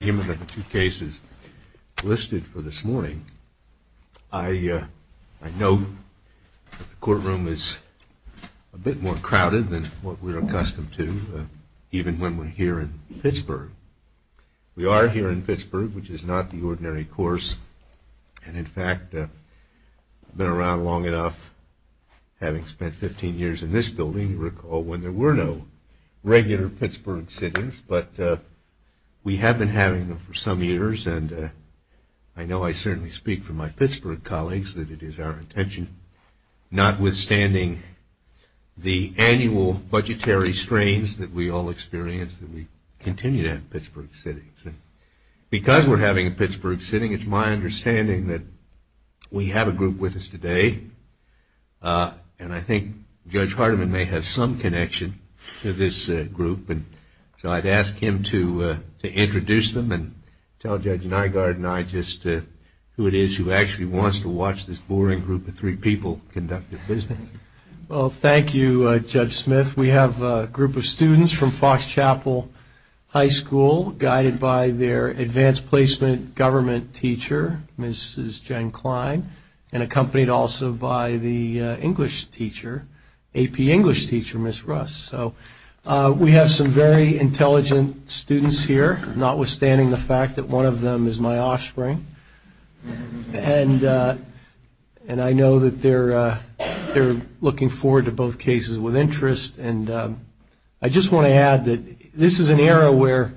the two cases listed for this morning, I know that the courtroom is a bit more crowded than what we're accustomed to, even when we're here in Pittsburgh. We are here in Pittsburgh, which is not the ordinary course, and in fact, I've been around long enough, having spent 15 years in this building, recall, when there were no regular Pittsburgh sittings, but we have been having them for some years, and I know I certainly speak for my Pittsburgh colleagues that it is our intention, notwithstanding the annual budgetary strains that we all experience, that we continue to have Pittsburgh sittings. Because we're having a Pittsburgh sitting, it's my understanding that we have a group with us today, and I think Judge Hardiman may have some connection to this group, and so I'd ask him to introduce them and tell Judge Nygaard and I just who it is who actually wants to watch this boring group of three people conduct their business. Well, thank you, Judge Smith. We have a group of students from Fox Chapel High School, guided by their Advanced Placement Government teacher, Mrs. Jen Klein, and accompanied also by the English teacher, AP English teacher, Ms. Russ. So, we have some very intelligent students here, notwithstanding the fact that one of them is my offspring, and I know that they're looking forward to both cases with interest, and I just want to add that this is an era where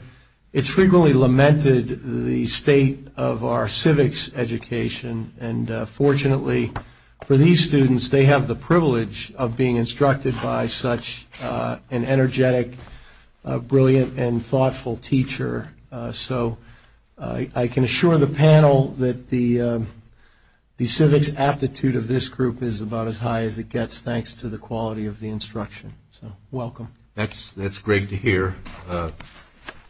it's frequently lamented the state of our civics education, and fortunately, for these students, they have the privilege of being instructed by such an energetic, brilliant, and thoughtful teacher. So, I can assure the panel that the civics aptitude of this group is about as high as it gets, thanks to the quality of the instruction. So, welcome. That's great to hear,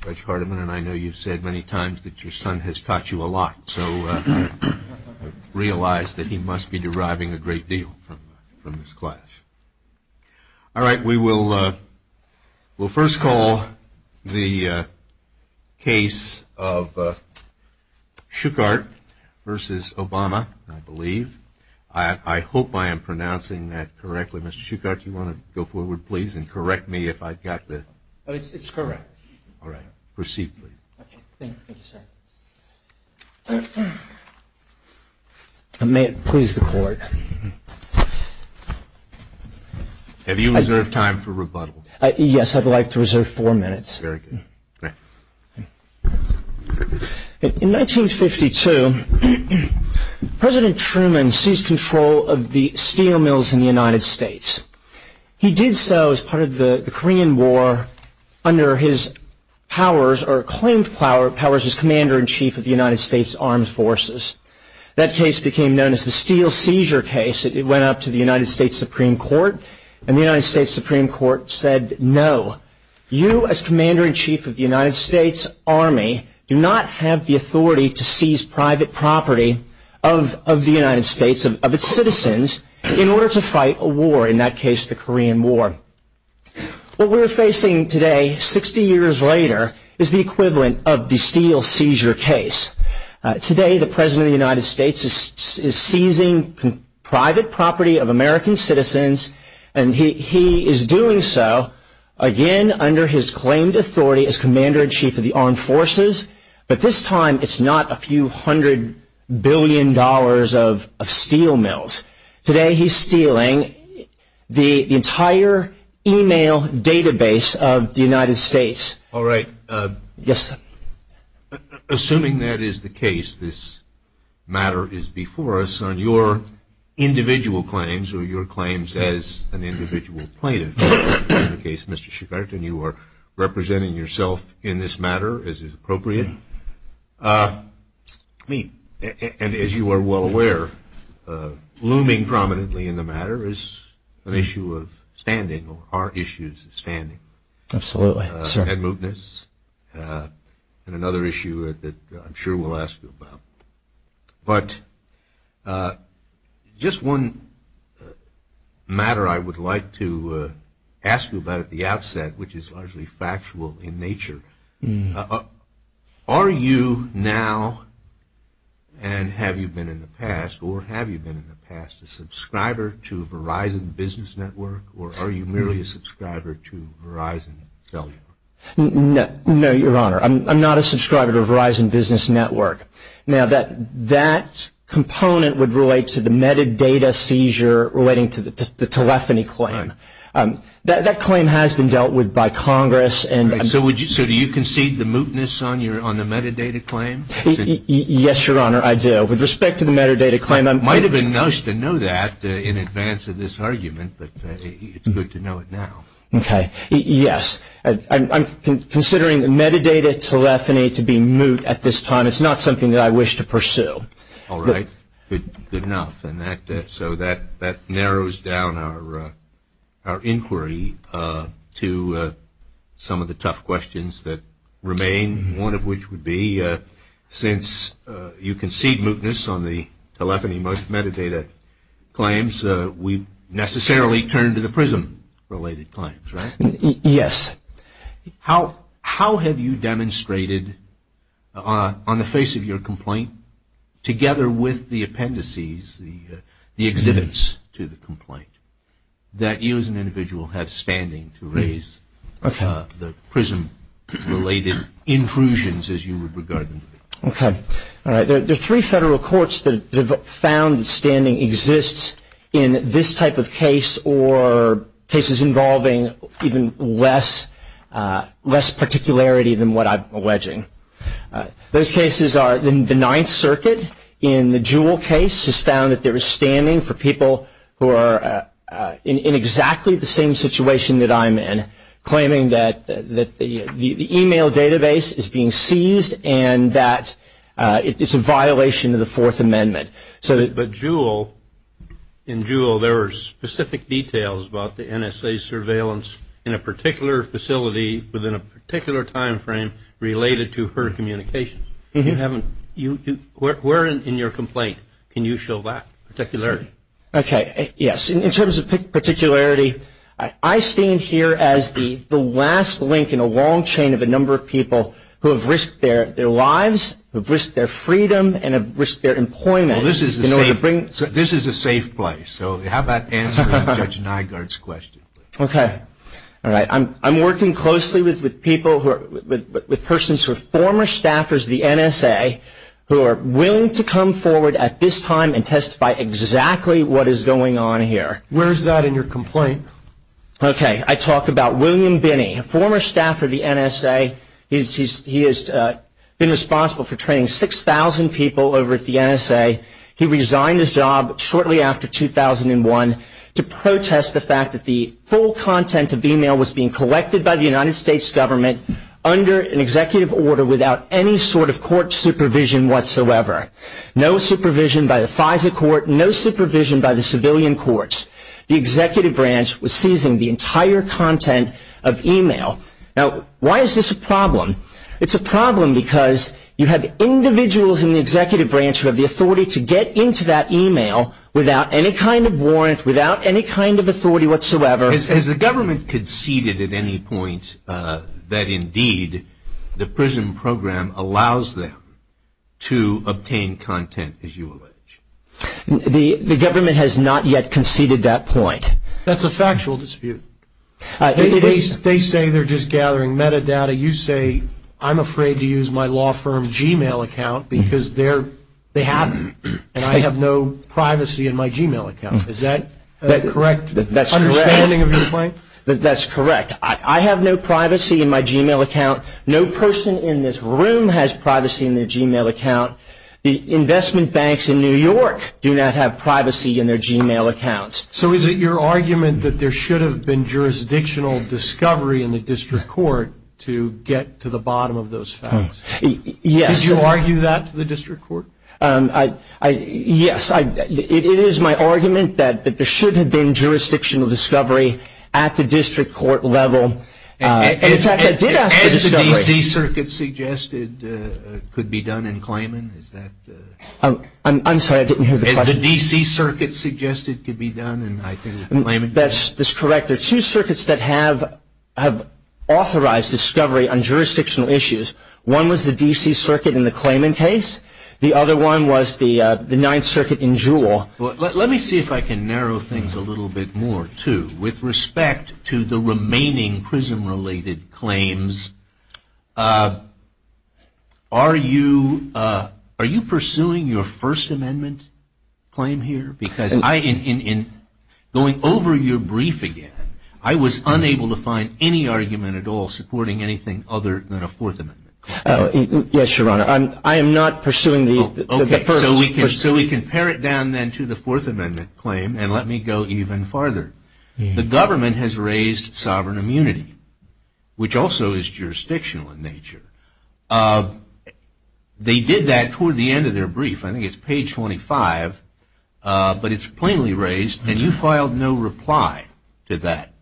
Judge Hardiman, and I know you've said many times that your son has taught you a lot, so I realize that he must be deriving a great deal from this class. All right, we will first call the case of Shuchart versus Obama, I believe. I hope I am pronouncing that correctly. Mr. Shuchart, do you want to go forward, please, and correct me if I've got the... It's correct. All right, proceed, please. Thank you, sir. May it please the court. Have you reserved time for rebuttal? Yes, I'd like to reserve four minutes. Very good. In 1952, President Truman seized control of the steel mills in the United States. He did so as part of the Korean War under his powers, or claimed powers, as Commander-in-Chief of the United States Armed Forces. That case became known as the Steel Seizure Case. It went up to the United States Supreme Court, and the United States Supreme Court said, no, you as Commander-in-Chief of the United States Army do not have the authority to seize private property of the United States, of its citizens, in order to fight a war, in that case, the Korean War. What we're facing today, 60 years later, is the equivalent of the Steel Seizure Case. Today, the President of the United States is seizing private property of American citizens, and he is doing so, again, under his claimed authority as Commander-in-Chief of the Armed Forces, but this time, it's not a few hundred billion dollars of steel mills. Today, he's stealing the entire e-mail database of the United States. All right. Yes, sir. Assuming that is the case, this matter is before us, on your individual claims, or your claims as an individual plaintiff, in the case of Mr. Schubert, and you are representing yourself in this matter, as is appropriate, and as you are well aware, looming prominently in the matter is an issue of standing, or our issue is standing. Absolutely, sir. And mootness, and another issue that I'm sure we'll ask you about. But just one matter I would like to ask you about at the outset, which is largely factual in nature. Are you now, and have you been in the past, or have you been in the past, a subscriber to Verizon Business Network, or are you merely a subscriber to Verizon cellular? No, Your Honor. I'm not a subscriber to Verizon Business Network. Now, that component would relate to the metadata seizure relating to the telephony claim. That claim has been dealt with by Congress. So do you concede the mootness on the metadata claim? Yes, Your Honor, I do. With respect to the metadata claim. It might have been nice to know that in advance of this argument, but it's good to know it now. Okay. Yes. I'm considering the metadata telephony to be moot at this time. It's not something that I wish to pursue. All right. Good enough. And so that narrows down our inquiry to some of the tough questions that remain, one of which would be since you concede mootness on the telephony metadata claims, we necessarily turn to the PRISM-related claims, right? Yes. How have you demonstrated on the face of your complaint, together with the appendices, the exhibits to the complaint, that you as an individual have standing to raise the PRISM-related intrusions as you would regard them? Okay. All right. There are three federal courts that have found that standing exists in this type of case or cases involving even less particularity than what I'm alleging. Those cases are the Ninth Circuit in the Jewell case has found that there is standing for people who are in exactly the same situation that I'm in, claiming that the e-mail database is being seized and that it's a violation of the Fourth Amendment. But in Jewell there are specific details about the NSA surveillance in a particular facility within a particular time frame related to her communications. Where in your complaint can you show that particularity? Okay. Yes, in terms of particularity, I stand here as the last link in a long chain of a number of people who have risked their lives, who have risked their freedom, and have risked their employment in order to bring Well, this is a safe place. So how about answering Judge Nygaard's question? Okay. All right. I'm working closely with people, with persons who are former staffers of the NSA who are willing to come forward at this time and testify exactly what is going on here. Where is that in your complaint? Okay. I talk about William Binney, a former staffer of the NSA. He has been responsible for training 6,000 people over at the NSA. He resigned his job shortly after 2001 to protest the fact that the full content of e-mail was being collected by the United States government under an executive order without any sort of court supervision whatsoever. No supervision by the FISA court. No supervision by the civilian courts. The executive branch was seizing the entire content of e-mail. Now, why is this a problem? It's a problem because you have individuals in the executive branch who have the authority to get into that e-mail without any kind of warrant, without any kind of authority whatsoever. Has the government conceded at any point that, indeed, the prison program allows them to obtain content, as you allege? The government has not yet conceded that point. That's a factual dispute. They say they're just gathering metadata. You say, I'm afraid to use my law firm's e-mail account because they have it and I have no privacy in my e-mail account. Is that a correct understanding of your point? That's correct. I have no privacy in my e-mail account. No person in this room has privacy in their e-mail account. The investment banks in New York do not have privacy in their e-mail accounts. So is it your argument that there should have been jurisdictional discovery in the district court to get to the bottom of those facts? Yes. Did you argue that to the district court? Yes. It is my argument that there should have been jurisdictional discovery at the district court level. In fact, I did ask the district court. As the D.C. Circuit suggested could be done in Clayman, is that? I'm sorry, I didn't hear the question. As the D.C. Circuit suggested could be done in Clayman? That's correct. There are two circuits that have authorized discovery on jurisdictional issues. One was the D.C. Circuit in the Clayman case. The other one was the Ninth Circuit in Jewell. Let me see if I can narrow things a little bit more, too. With respect to the remaining prison-related claims, are you pursuing your First Amendment claim here? Because in going over your brief again, I was unable to find any argument at all supporting anything other than a Fourth Amendment claim. Yes, Your Honor. So we can pare it down then to the Fourth Amendment claim, and let me go even farther. The government has raised sovereign immunity, which also is jurisdictional in nature. They did that toward the end of their brief. I think it's page 25, but it's plainly raised, and you filed no reply to that.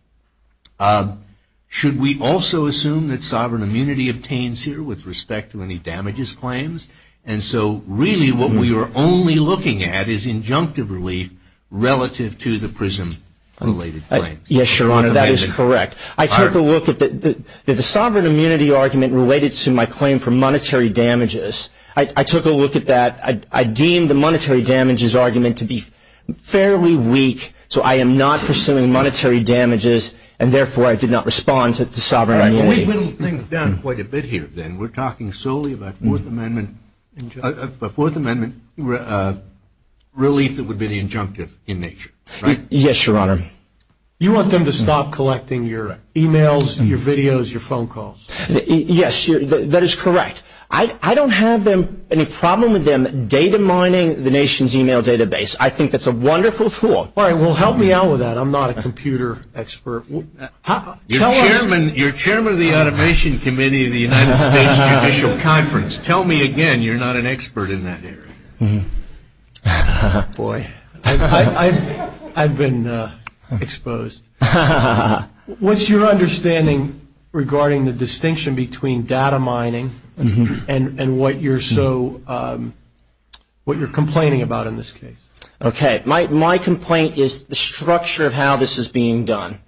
Should we also assume that sovereign immunity obtains here with respect to any damages claims? And so really what we are only looking at is injunctive relief relative to the prison-related claims. Yes, Your Honor, that is correct. I took a look at the sovereign immunity argument related to my claim for monetary damages. I took a look at that. I deemed the monetary damages argument to be fairly weak, so I am not pursuing monetary damages, and therefore I did not respond to the sovereign immunity. We've whittled things down quite a bit here, then. We're talking solely about a Fourth Amendment relief that would be the injunctive in nature, right? Yes, Your Honor. You want them to stop collecting your emails, your videos, your phone calls. Yes, that is correct. I don't have any problem with them data mining the nation's email database. I think that's a wonderful tool. All right, well, help me out with that. I'm not a computer expert. Your Chairman of the Automation Committee of the United States Judicial Conference, tell me again you're not an expert in that area. Boy, I've been exposed. What's your understanding regarding the distinction between data mining and what you're complaining about in this case? Okay, my complaint is the structure of how this is being done.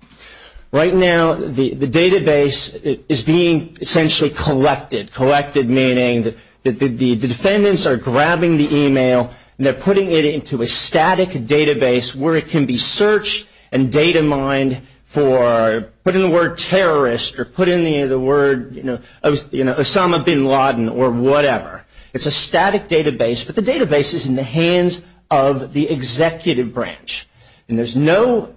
Right now, the database is being essentially collected, collected meaning that the defendants are grabbing the email and they're putting it into a static database where it can be searched and data mined for, put in the word terrorist or put in the word Osama bin Laden or whatever. It's a static database, but the database is in the hands of the executive branch, and there's no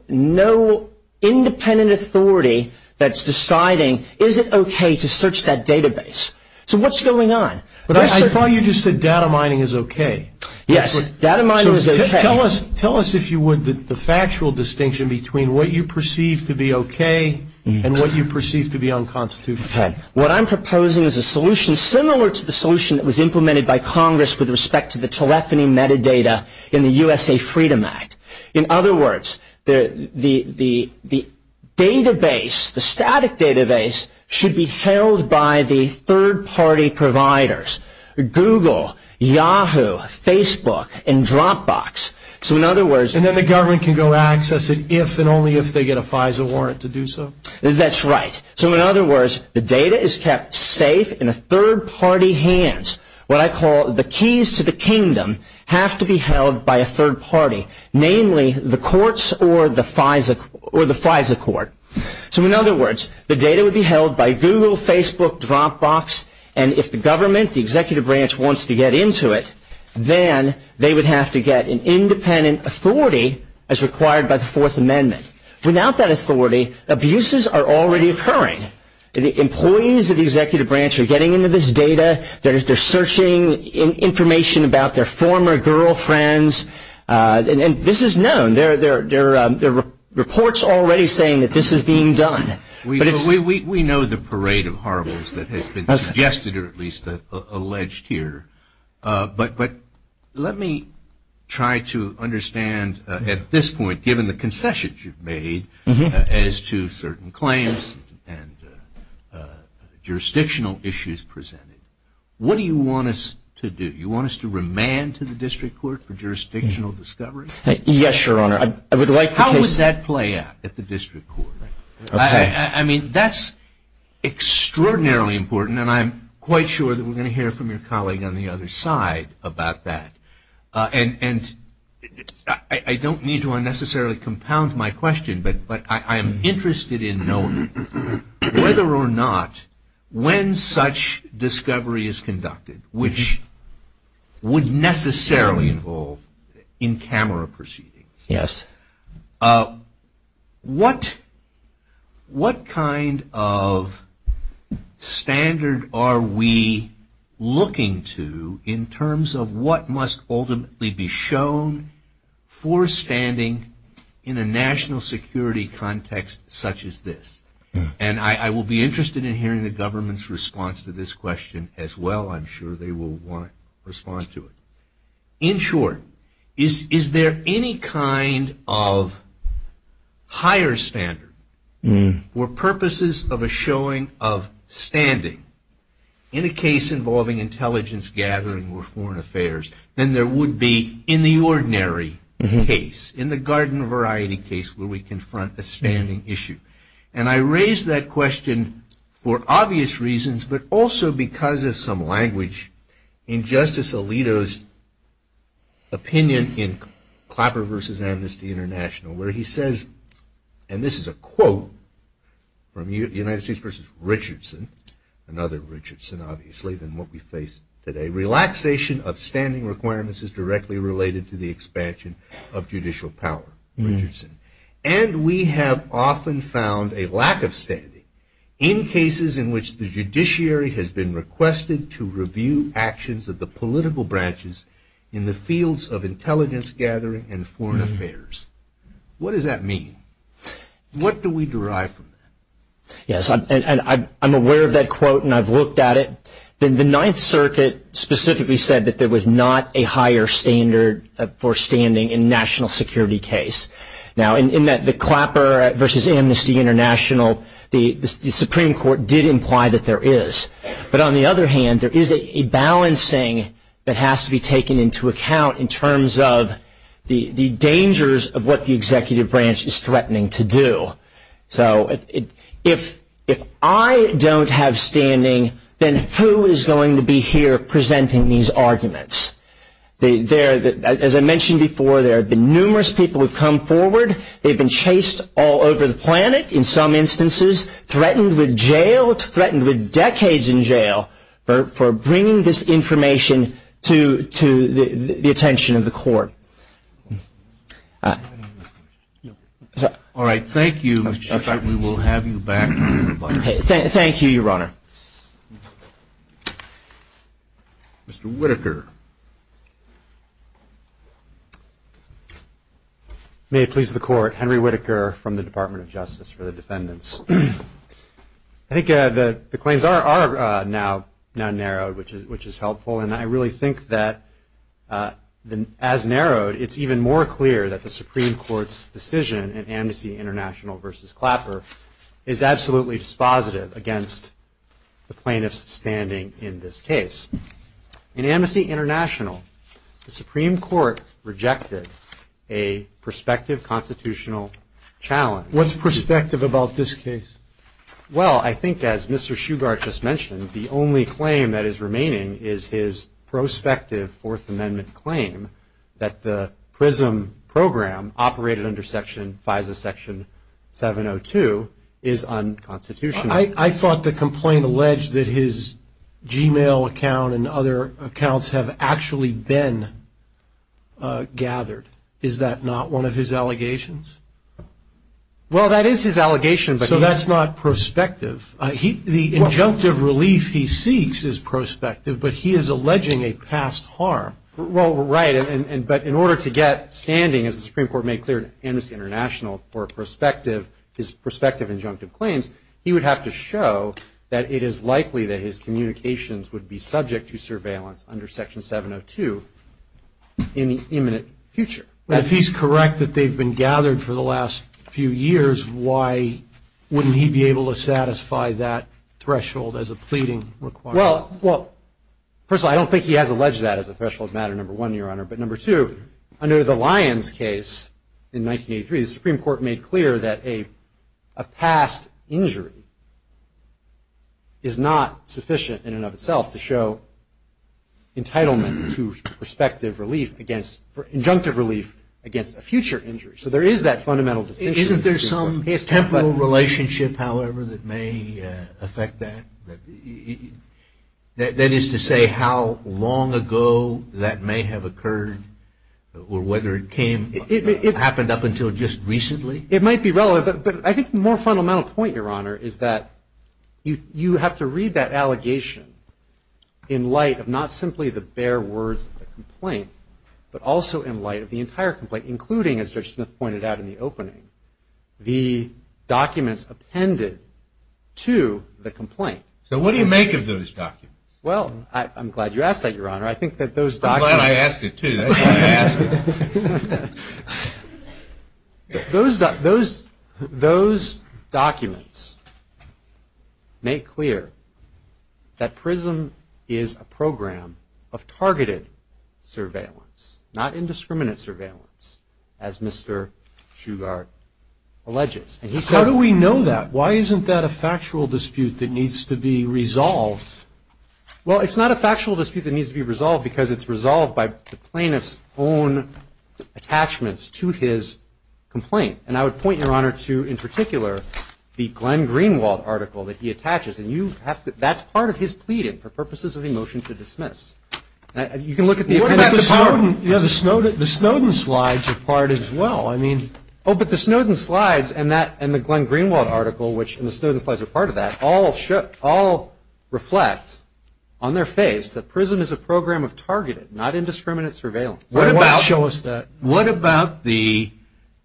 independent authority that's deciding is it okay to search that database. So what's going on? I thought you just said data mining is okay. Yes, data mining is okay. Tell us if you would the factual distinction between what you perceive to be okay and what you perceive to be unconstitutional. Okay, what I'm proposing is a solution similar to the solution that was implemented by Congress with respect to the telephony metadata in the USA Freedom Act. In other words, the database, the static database should be held by the third-party providers, Google, Yahoo, Facebook, and Dropbox. So in other words. And then the government can go access it if and only if they get a FISA warrant to do so? That's right. So in other words, the data is kept safe in a third-party hands. What I call the keys to the kingdom have to be held by a third party, namely the courts or the FISA court. So in other words, the data would be held by Google, Facebook, Dropbox, and if the government, the executive branch, wants to get into it, then they would have to get an independent authority as required by the Fourth Amendment. Without that authority, abuses are already occurring. The employees of the executive branch are getting into this data. They're searching information about their former girlfriends. And this is known. There are reports already saying that this is being done. We know the parade of horribles that has been suggested or at least alleged here. But let me try to understand at this point, given the concessions you've made as to certain claims and jurisdictional issues presented, what do you want us to do? Do you want us to remand to the district court for jurisdictional discovery? Yes, Your Honor. How would that play out at the district court? I mean, that's extraordinarily important, and I'm quite sure that we're going to hear from your colleague on the other side about that. And I don't need to unnecessarily compound my question, but I'm interested in knowing whether or not when such discovery is conducted, which would necessarily involve in-camera proceedings. Yes. What kind of standard are we looking to in terms of what must ultimately be shown for standing in a national security context such as this? And I will be interested in hearing the government's response to this question as well. I'm sure they will want to respond to it. In short, is there any kind of higher standard for purposes of a showing of standing in a case involving intelligence gathering or foreign affairs than there would be in the ordinary case, in the garden variety case where we confront a standing issue? And I raise that question for obvious reasons, but also because of some language in Justice Alito's opinion in Clapper v. Amnesty International where he says, and this is a quote from United States v. Richardson, another Richardson, obviously, than what we face today, relaxation of standing requirements is directly related to the expansion of judicial power, Richardson. And we have often found a lack of standing in cases in which the judiciary has been requested to review actions of the political branches in the fields of intelligence gathering and foreign affairs. What does that mean? What do we derive from that? Yes, and I'm aware of that quote and I've looked at it. Then the Ninth Circuit specifically said that there was not a higher standard for standing in national security case. Now, in that the Clapper v. Amnesty International, the Supreme Court did imply that there is. But on the other hand, there is a balancing that has to be taken into account in terms of the dangers of what the executive branch is threatening to do. So if I don't have standing, then who is going to be here presenting these arguments? As I mentioned before, there have been numerous people who have come forward. They've been chased all over the planet in some instances, threatened with jail, threatened with decades in jail, for bringing this information to the attention of the court. All right, thank you. We will have you back. Thank you, Your Honor. Mr. Whittaker. May it please the Court, Henry Whittaker from the Department of Justice for the Defendants. I think the claims are now narrowed, which is helpful. And I really think that, as narrowed, it's even more clear that the Supreme Court's decision in Amnesty International v. Clapper is absolutely dispositive against the plaintiff's standing in this case. In Amnesty International, the Supreme Court rejected a prospective constitutional challenge. What's prospective about this case? Well, I think, as Mr. Shugart just mentioned, the only claim that is remaining is his prospective Fourth Amendment claim that the PRISM program, operated under Section FISA, Section 702, is unconstitutional. I thought the complaint alleged that his Gmail account and other accounts have actually been gathered. Is that not one of his allegations? Well, that is his allegation. So that's not prospective? The injunctive relief he seeks is prospective, but he is alleging a past harm. Well, right. But in order to get standing, as the Supreme Court made clear in Amnesty International, for his prospective injunctive claims, he would have to show that it is likely that his communications would be subject to surveillance under Section 702 in the imminent future. If he's correct that they've been gathered for the last few years, why wouldn't he be able to satisfy that threshold as a pleading requirement? Well, personally, I don't think he has alleged that as a threshold matter, number one, Your Honor. But number two, under the Lyons case in 1983, the Supreme Court made clear that a past injury is not sufficient in and of itself to show entitlement to prospective relief against injunctive relief against a future injury. So there is that fundamental distinction. Isn't there some temporal relationship, however, that may affect that? That is to say how long ago that may have occurred or whether it happened up until just recently? It might be relevant. But I think the more fundamental point, Your Honor, is that you have to read that allegation in light of not simply the bare words of the complaint, but also in light of the entire complaint, including, as Judge Smith pointed out in the opening, the documents appended to the complaint. So what do you make of those documents? Well, I'm glad you asked that, Your Honor. I'm glad I asked it, too. That's why I asked it. Those documents make clear that PRISM is a program of targeted surveillance, not indiscriminate surveillance, as Mr. Shugart alleges. How do we know that? Why isn't that a factual dispute that needs to be resolved? Well, it's not a factual dispute that needs to be resolved because it's resolved by the plaintiff's own attachments to his complaint. And I would point, Your Honor, to, in particular, the Glenn Greenwald article that he attaches. And that's part of his pleading for purposes of a motion to dismiss. You can look at the appendix. What about the Snowden slides are part as well? Oh, but the Snowden slides and the Glenn Greenwald article, which the Snowden slides are part of that, all reflect on their face that PRISM is a program of targeted, not indiscriminate surveillance. Why not show us that? What about the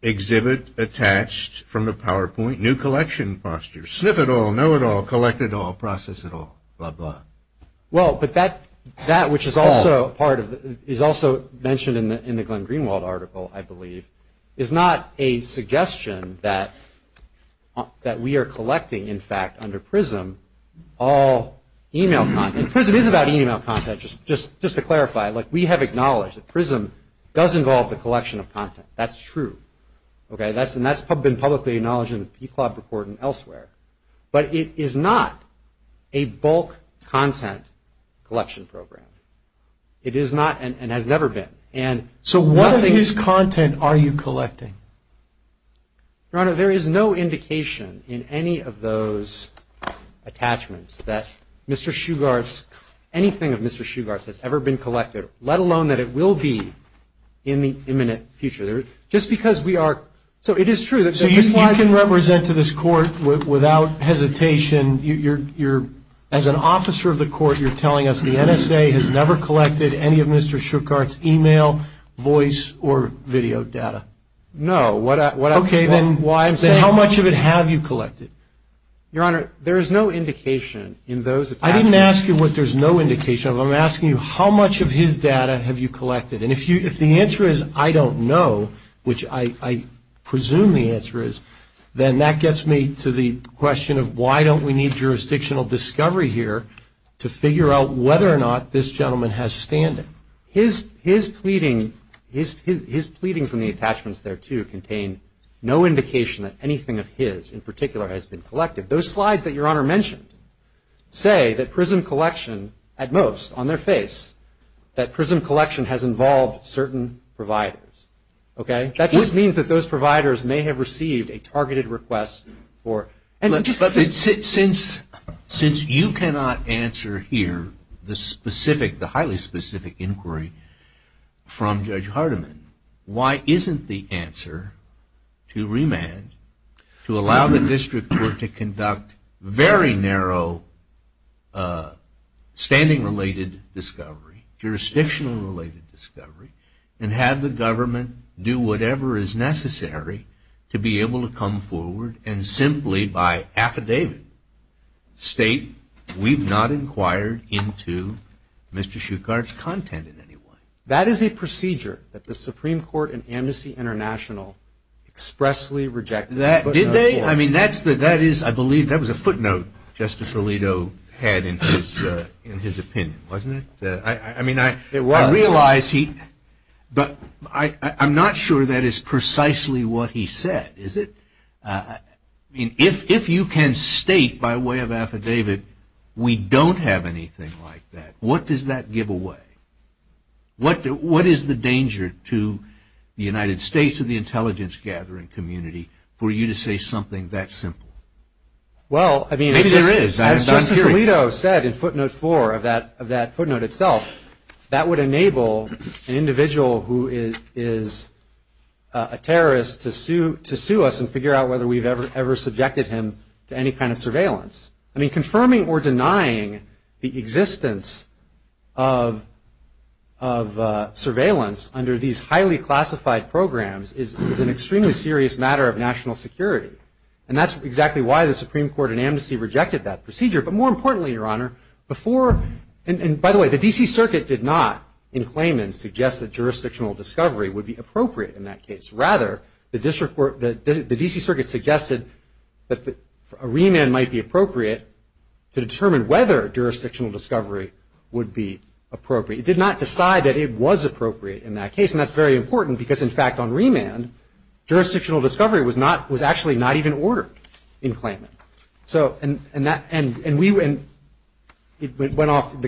exhibit attached from the PowerPoint, new collection posture, sniff it all, know it all, collect it all, process it all, blah, blah? Well, but that, which is also mentioned in the Glenn Greenwald article, I believe, is not a suggestion that we are collecting, in fact, under PRISM, all e-mail content. And PRISM is about e-mail content. Just to clarify, we have acknowledged that PRISM does involve the collection of content. That's true. And that's been publicly acknowledged in the PCLOB report and elsewhere. But it is not a bulk content collection program. It is not and has never been. So what of his content are you collecting? Your Honor, there is no indication in any of those attachments that Mr. Shugart's, anything of Mr. Shugart's has ever been collected, let alone that it will be in the imminent future. Just because we are, so it is true. So you can represent to this court without hesitation, you're, as an officer of the court, you're telling us the NSA has never collected any of Mr. Shugart's e-mail, voice, or video data? No. Okay, then how much of it have you collected? Your Honor, there is no indication in those attachments. I didn't ask you what there's no indication of. I'm asking you how much of his data have you collected. And if the answer is I don't know, which I presume the answer is, then that gets me to the question of why don't we need jurisdictional discovery here to figure out whether or not this gentleman has standing. His pleadings and the attachments there, too, contain no indication that anything of his in particular has been collected. Those slides that Your Honor mentioned say that PRISM collection, at most, on their face, that PRISM collection has involved certain providers. That just means that those providers may have received a targeted request. Since you cannot answer here the specific, the highly specific inquiry from Judge Hardiman, why isn't the answer to remand to allow the district court to conduct very narrow standing-related discovery, jurisdictional-related discovery, and have the government do whatever is necessary to be able to come forward and simply by affidavit state we've not inquired into Mr. Shuchard's content in any way? That is a procedure that the Supreme Court and Amnesty International expressly rejected. Did they? I mean, that is, I believe, that was a footnote Justice Alito had in his opinion, wasn't it? I mean, I realize he, but I'm not sure that is precisely what he said, is it? I mean, if you can state by way of affidavit we don't have anything like that, what does that give away? What is the danger to the United States and the intelligence-gathering community for you to say something that simple? Well, I mean, as Justice Alito said in footnote four of that footnote itself, that would enable an individual who is a terrorist to sue us and figure out whether we've ever subjected him to any kind of surveillance. I mean, confirming or denying the existence of surveillance under these highly classified programs is an extremely serious matter of national security. And that's exactly why the Supreme Court and Amnesty rejected that procedure. But more importantly, Your Honor, before, and by the way, the D.C. Circuit did not, in claimants, suggest that jurisdictional discovery would be appropriate in that case. Rather, the D.C. Circuit suggested that a remand might be appropriate to determine whether jurisdictional discovery would be appropriate. It did not decide that it was appropriate in that case, and that's very important, because, in fact, on remand, jurisdictional discovery was actually not even ordered in claimant. And the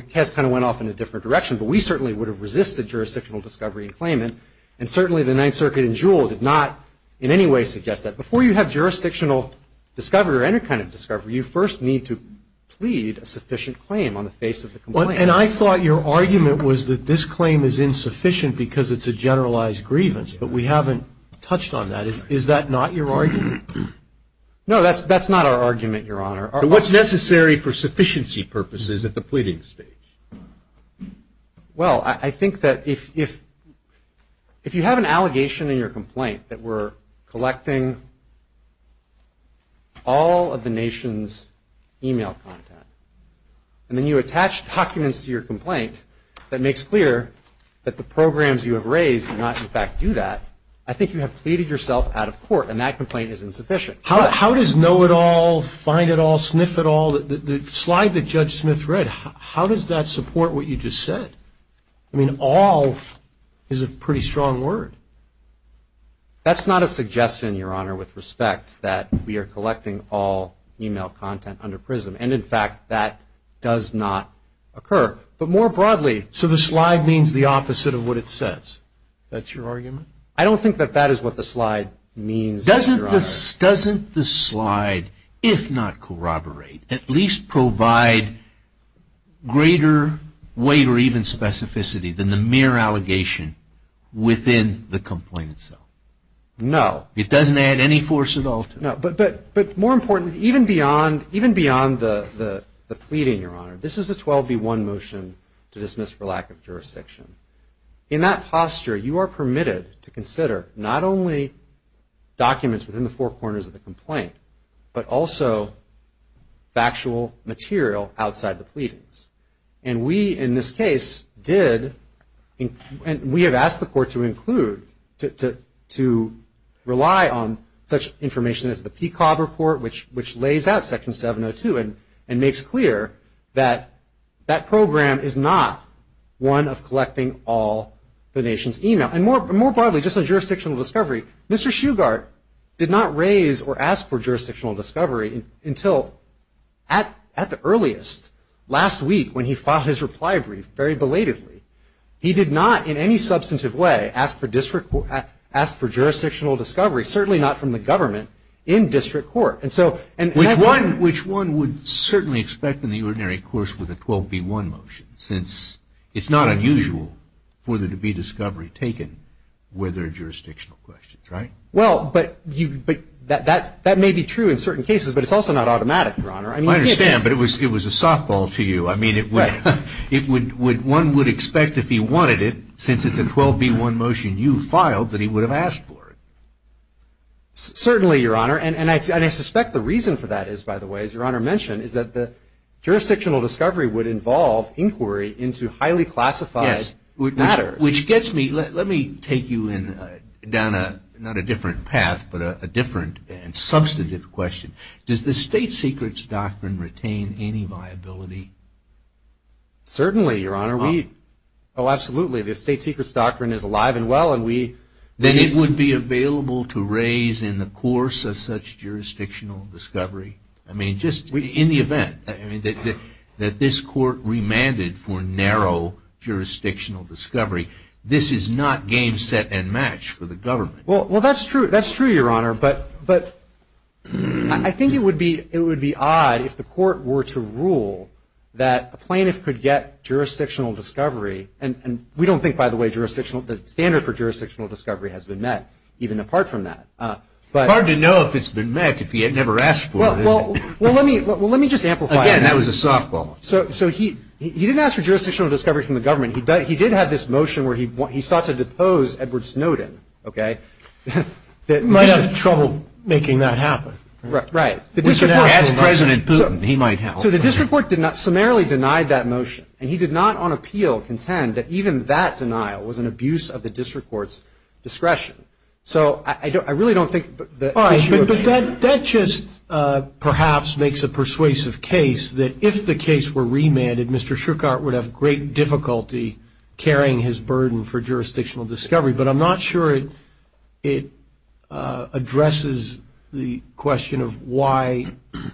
case kind of went off in a different direction, but we certainly would have resisted jurisdictional discovery in claimant, and certainly the Ninth Circuit in Juul did not in any way suggest that. Before you have jurisdictional discovery or any kind of discovery, you first need to plead a sufficient claim on the face of the complaint. And I thought your argument was that this claim is insufficient because it's a generalized grievance, but we haven't touched on that. Is that not your argument? No, that's not our argument, Your Honor. What's necessary for sufficiency purposes at the pleading stage? Well, I think that if you have an allegation in your complaint that we're collecting all of the nation's e-mail content and then you attach documents to your complaint that makes clear that the programs you have raised do not, in fact, do that, I think you have pleaded yourself out of court, and that complaint is insufficient. How does know-it-all, find-it-all, sniff-it-all, the slide that Judge Smith read, how does that support what you just said? I mean, all is a pretty strong word. That's not a suggestion, Your Honor, with respect, that we are collecting all e-mail content under PRISM. And, in fact, that does not occur. But more broadly, so the slide means the opposite of what it says. That's your argument? I don't think that that is what the slide means, Your Honor. Doesn't the slide, if not corroborate, at least provide greater weight or even specificity than the mere allegation within the complaint itself? No. It doesn't add any force at all to that? No, but more importantly, even beyond the pleading, Your Honor, this is a 12B1 motion to dismiss for lack of jurisdiction. In that posture, you are permitted to consider not only documents within the four corners of the complaint, but also factual material outside the pleadings. And we, in this case, did, and we have asked the court to include, to rely on such information as the PCOB report, which lays out Section 702 and makes clear that that program is not one of collecting all the nation's e-mail. And more broadly, just on jurisdictional discovery, Mr. Shugart did not raise or ask for jurisdictional discovery until at the earliest, last week, when he filed his reply brief, very belatedly. He did not, in any substantive way, ask for jurisdictional discovery, certainly not from the government in district court. Which one would certainly expect in the ordinary course with a 12B1 motion, since it's not unusual for there to be discovery taken where there are jurisdictional questions, right? Well, but that may be true in certain cases, but it's also not automatic, Your Honor. I understand, but it was a softball to you. I mean, one would expect if he wanted it, since it's a 12B1 motion you filed, that he would have asked for it. Certainly, Your Honor. And I suspect the reason for that is, by the way, as Your Honor mentioned, is that the jurisdictional discovery would involve inquiry into highly classified matters. Yes, which gets me. Let me take you down not a different path, but a different and substantive question. Does the State Secrets Doctrine retain any viability? Certainly, Your Honor. Oh, absolutely. The State Secrets Doctrine is alive and well. Then it would be available to raise in the course of such jurisdictional discovery? I mean, just in the event that this Court remanded for narrow jurisdictional discovery, this is not game, set, and match for the government. Well, that's true, Your Honor. But I think it would be odd if the Court were to rule that a plaintiff could get jurisdictional discovery, and we don't think, by the way, the standard for jurisdictional discovery has been met, even apart from that. It's hard to know if it's been met if you had never asked for it. Well, let me just amplify that. Again, that was a softball. So he didn't ask for jurisdictional discovery from the government. He did have this motion where he sought to depose Edward Snowden. He might have trouble making that happen. Right. Ask President Putin. He might help. So the district court summarily denied that motion, and he did not on appeal contend that even that denial was an abuse of the district court's discretion. So I really don't think the issue of ---- All right, but that just perhaps makes a persuasive case that if the case were remanded, Mr. Shuchart would have great difficulty carrying his burden for jurisdictional discovery. But I'm not sure it addresses the question of why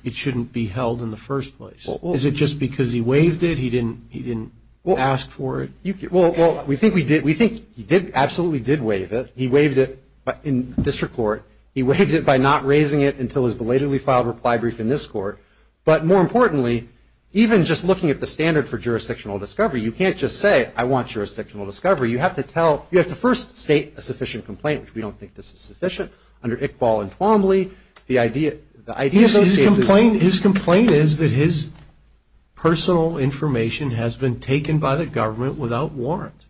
it shouldn't be held in the first place. Is it just because he waived it? He didn't ask for it? Well, we think he absolutely did waive it. He waived it in district court. He waived it by not raising it until his belatedly filed reply brief in this court. But more importantly, even just looking at the standard for jurisdictional discovery, you can't just say, I want jurisdictional discovery. You have to first state a sufficient complaint, which we don't think this is sufficient, under Iqbal and Twombly. His complaint is that his personal information has been taken by the government without warrant.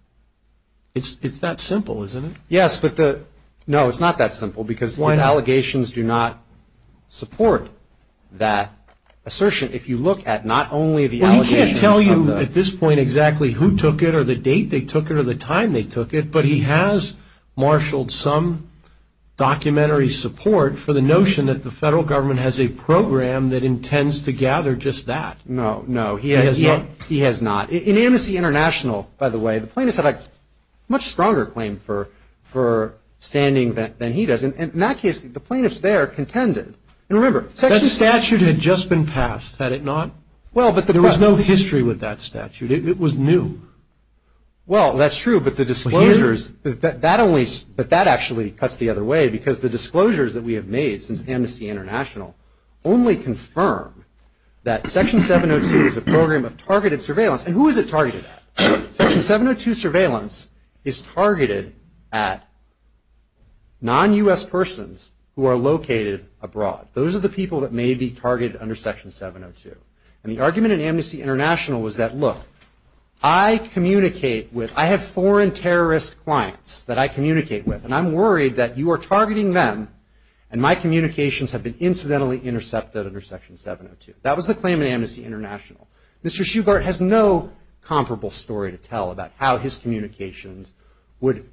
It's that simple, isn't it? Yes, but no, it's not that simple because his allegations do not support that assertion. If you look at not only the allegations of the – Well, he can't tell you at this point exactly who took it or the date they took it or the time they took it, but he has marshaled some documentary support for the notion that the federal government has a program that intends to gather just that. No, no, he has not. In Amnesty International, by the way, the plaintiffs have a much stronger claim for standing than he does. And in that case, the plaintiffs there contended. And remember – That statute had just been passed, had it not? Well, but the – There was no history with that statute. It was new. Well, that's true, but the disclosures – But he – That only – but that actually cuts the other way because the disclosures that we have made since Amnesty International only confirm that Section 702 is a program of targeted surveillance. And who is it targeted at? Section 702 surveillance is targeted at non-U.S. persons who are located abroad. Those are the people that may be targeted under Section 702. And the argument in Amnesty International was that, look, I communicate with – I have foreign terrorist clients that I communicate with, and I'm worried that you are targeting them and my communications have been incidentally intercepted under Section 702. That was the claim in Amnesty International. Mr. Shugart has no comparable story to tell about how his communications would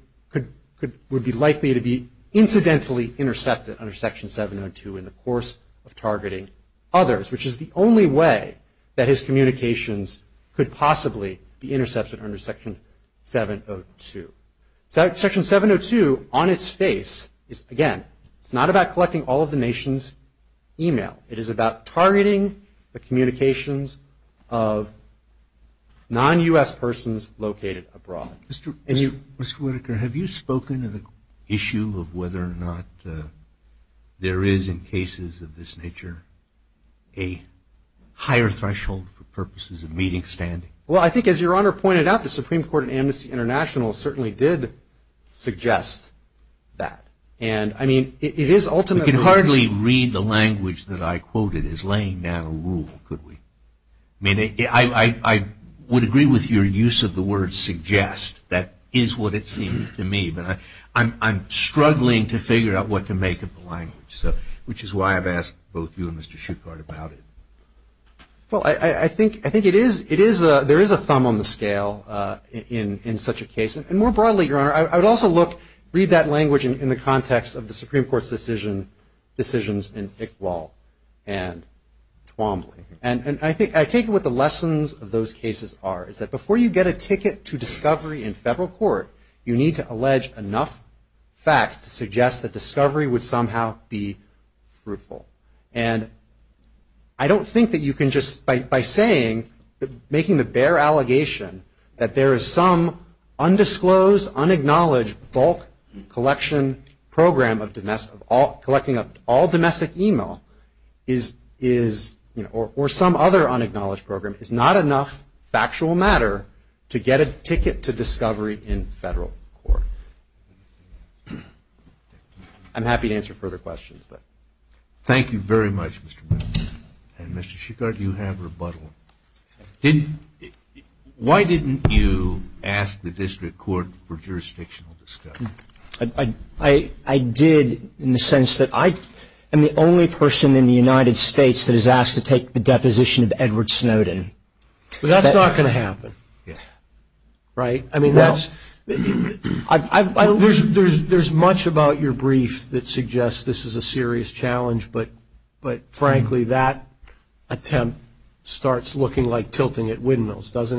be likely to be incidentally intercepted under Section 702 in the course of targeting others, which is the only way that his communications could possibly be intercepted under Section 702. Section 702 on its face is, again, it's not about collecting all of the nation's email. It is about targeting the communications of non-U.S. persons located abroad. Mr. Whitaker, have you spoken to the issue of whether or not there is in cases of this nature a higher threshold for purposes of meeting standing? Well, I think as Your Honor pointed out, the Supreme Court in Amnesty International certainly did suggest that. And, I mean, it is ultimately – the language that I quoted is laying down a rule, could we? I mean, I would agree with your use of the word suggest. That is what it seems to me. But I'm struggling to figure out what to make of the language, which is why I've asked both you and Mr. Shugart about it. Well, I think it is – there is a thumb on the scale in such a case. And more broadly, Your Honor, I would also look – the Supreme Court's decision – decisions in Iqbal and Twombly. And I think – I take it what the lessons of those cases are, is that before you get a ticket to discovery in federal court, you need to allege enough facts to suggest that discovery would somehow be fruitful. And I don't think that you can just – by saying – making the bare allegation that there is some undisclosed, unacknowledged bulk collection program of – collecting of all domestic email is – or some other unacknowledged program, is not enough factual matter to get a ticket to discovery in federal court. I'm happy to answer further questions. Thank you very much, Mr. Miller. And, Mr. Shugart, you have rebuttal. Why didn't you ask the district court for jurisdictional discovery? I did in the sense that I am the only person in the United States that has asked to take the deposition of Edward Snowden. That's not going to happen, right? I mean, that's – there's much about your brief that suggests this is a serious challenge, but, frankly, that attempt starts looking like tilting at windmills, doesn't it?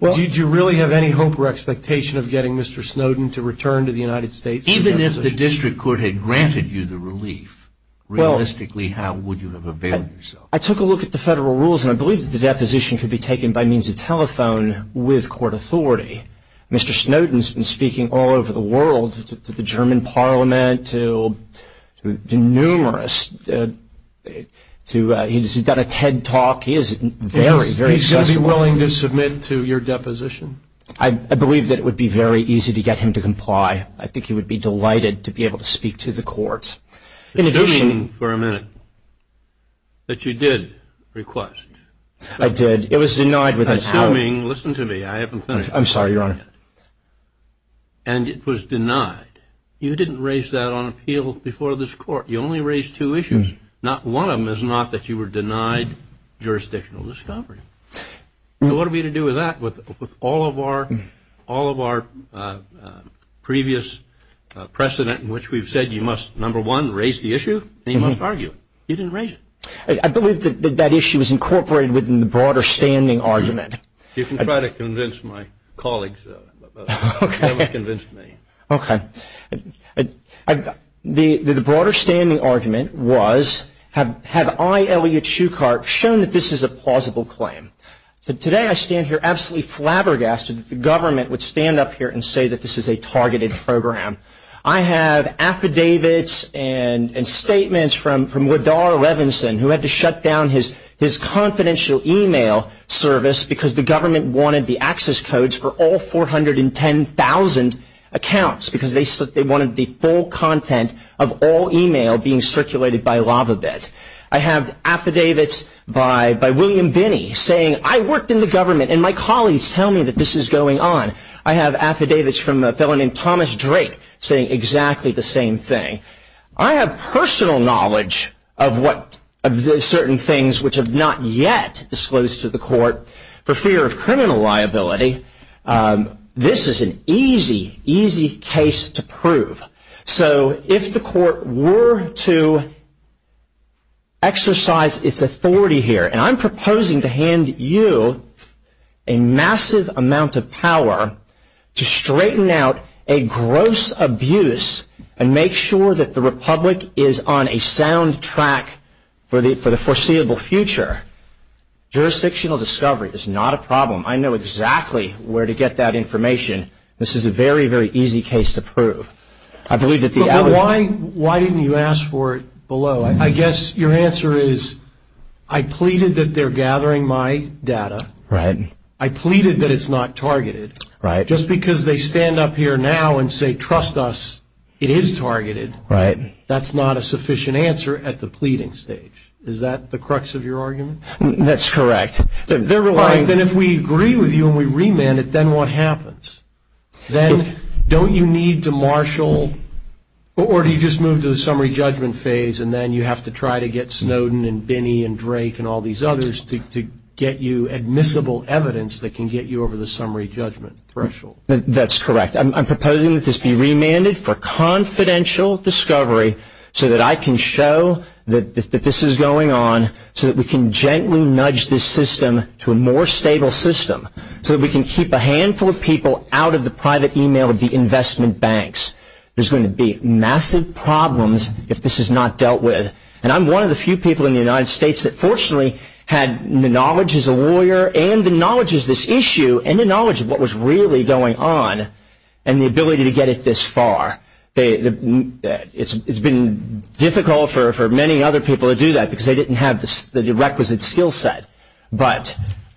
Do you really have any hope or expectation of getting Mr. Snowden to return to the United States? Even if the district court had granted you the relief, realistically, how would you have availed yourself? I took a look at the federal rules, and I believe that the deposition could be taken by means of telephone with court authority. Mr. Snowden has been speaking all over the world to the German parliament, to numerous – he's done a TED Talk. He is very, very accessible. Would he still be willing to submit to your deposition? I believe that it would be very easy to get him to comply. I think he would be delighted to be able to speak to the courts. Assuming for a minute that you did request. I did. It was denied without – Assuming – listen to me. I haven't finished. I'm sorry, Your Honor. And it was denied. You didn't raise that on appeal before this court. You only raised two issues. Not one of them is not that you were denied jurisdictional discovery. So what are we to do with that? With all of our previous precedent in which we've said you must, number one, raise the issue, and you must argue it. You didn't raise it. I believe that that issue is incorporated within the broader standing argument. You can try to convince my colleagues. Okay. You never convinced me. Okay. The broader standing argument was have I, Elliot Shucart, shown that this is a plausible claim? Today I stand here absolutely flabbergasted that the government would stand up here and say that this is a targeted program. I have affidavits and statements from Woodar Revinson, who had to shut down his confidential e-mail service because the government wanted the access codes for all 410,000 accounts, because they wanted the full content of all e-mail being circulated by LavaBit. I have affidavits by William Binney saying, I worked in the government, and my colleagues tell me that this is going on. I have affidavits from a fellow named Thomas Drake saying exactly the same thing. I have personal knowledge of certain things which have not yet disclosed to the court for fear of criminal liability. This is an easy, easy case to prove. So if the court were to exercise its authority here, and I'm proposing to hand you a massive amount of power to straighten out a gross abuse and make sure that the republic is on a sound track for the foreseeable future, jurisdictional discovery is not a problem. I know exactly where to get that information. This is a very, very easy case to prove. I believe that the other... But why didn't you ask for it below? I guess your answer is, I pleaded that they're gathering my data. Right. I pleaded that it's not targeted. Right. Just because they stand up here now and say, trust us, it is targeted. Right. That's not a sufficient answer at the pleading stage. Is that the crux of your argument? That's correct. Then if we agree with you and we remand it, then what happens? Then don't you need to marshal, or do you just move to the summary judgment phase and then you have to try to get Snowden and Binney and Drake and all these others to get you admissible evidence that can get you over the summary judgment threshold? That's correct. I'm proposing that this be remanded for confidential discovery so that I can show that this is going on, so that we can gently nudge this system to a more stable system, so that we can keep a handful of people out of the private email of the investment banks. There's going to be massive problems if this is not dealt with. I'm one of the few people in the United States that fortunately had the knowledge as a lawyer and the knowledge as this issue and the knowledge of what was really going on and the ability to get it this far. It's been difficult for many other people to do that because they didn't have the requisite skill set, but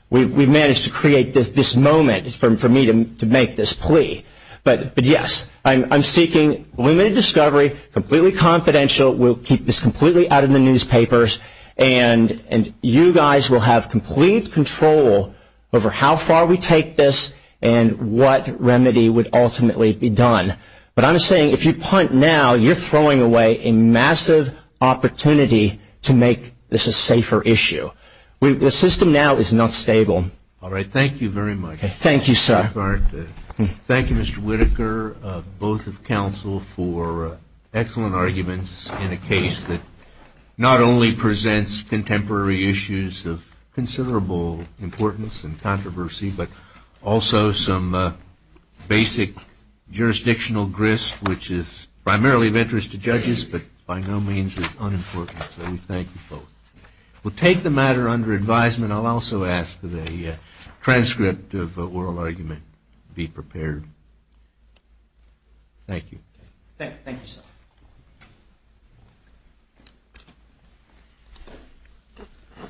we've managed to create this moment for me to make this plea. But yes, I'm seeking limited discovery, completely confidential. We'll keep this completely out of the newspapers, and you guys will have complete control over how far we take this and what remedy would ultimately be done. But I'm saying if you punt now, you're throwing away a massive opportunity to make this a safer issue. The system now is not stable. All right. Thank you very much. Thank you, sir. Thank you, Mr. Whitaker, both of counsel, for excellent arguments in a case that not only presents contemporary issues of considerable importance and controversy, but also some basic jurisdictional grist, which is primarily of interest to judges but by no means is unimportant. So we thank you both. We'll take the matter under advisement. I'll also ask that a transcript of oral argument be prepared. Thank you. Thank you, sir.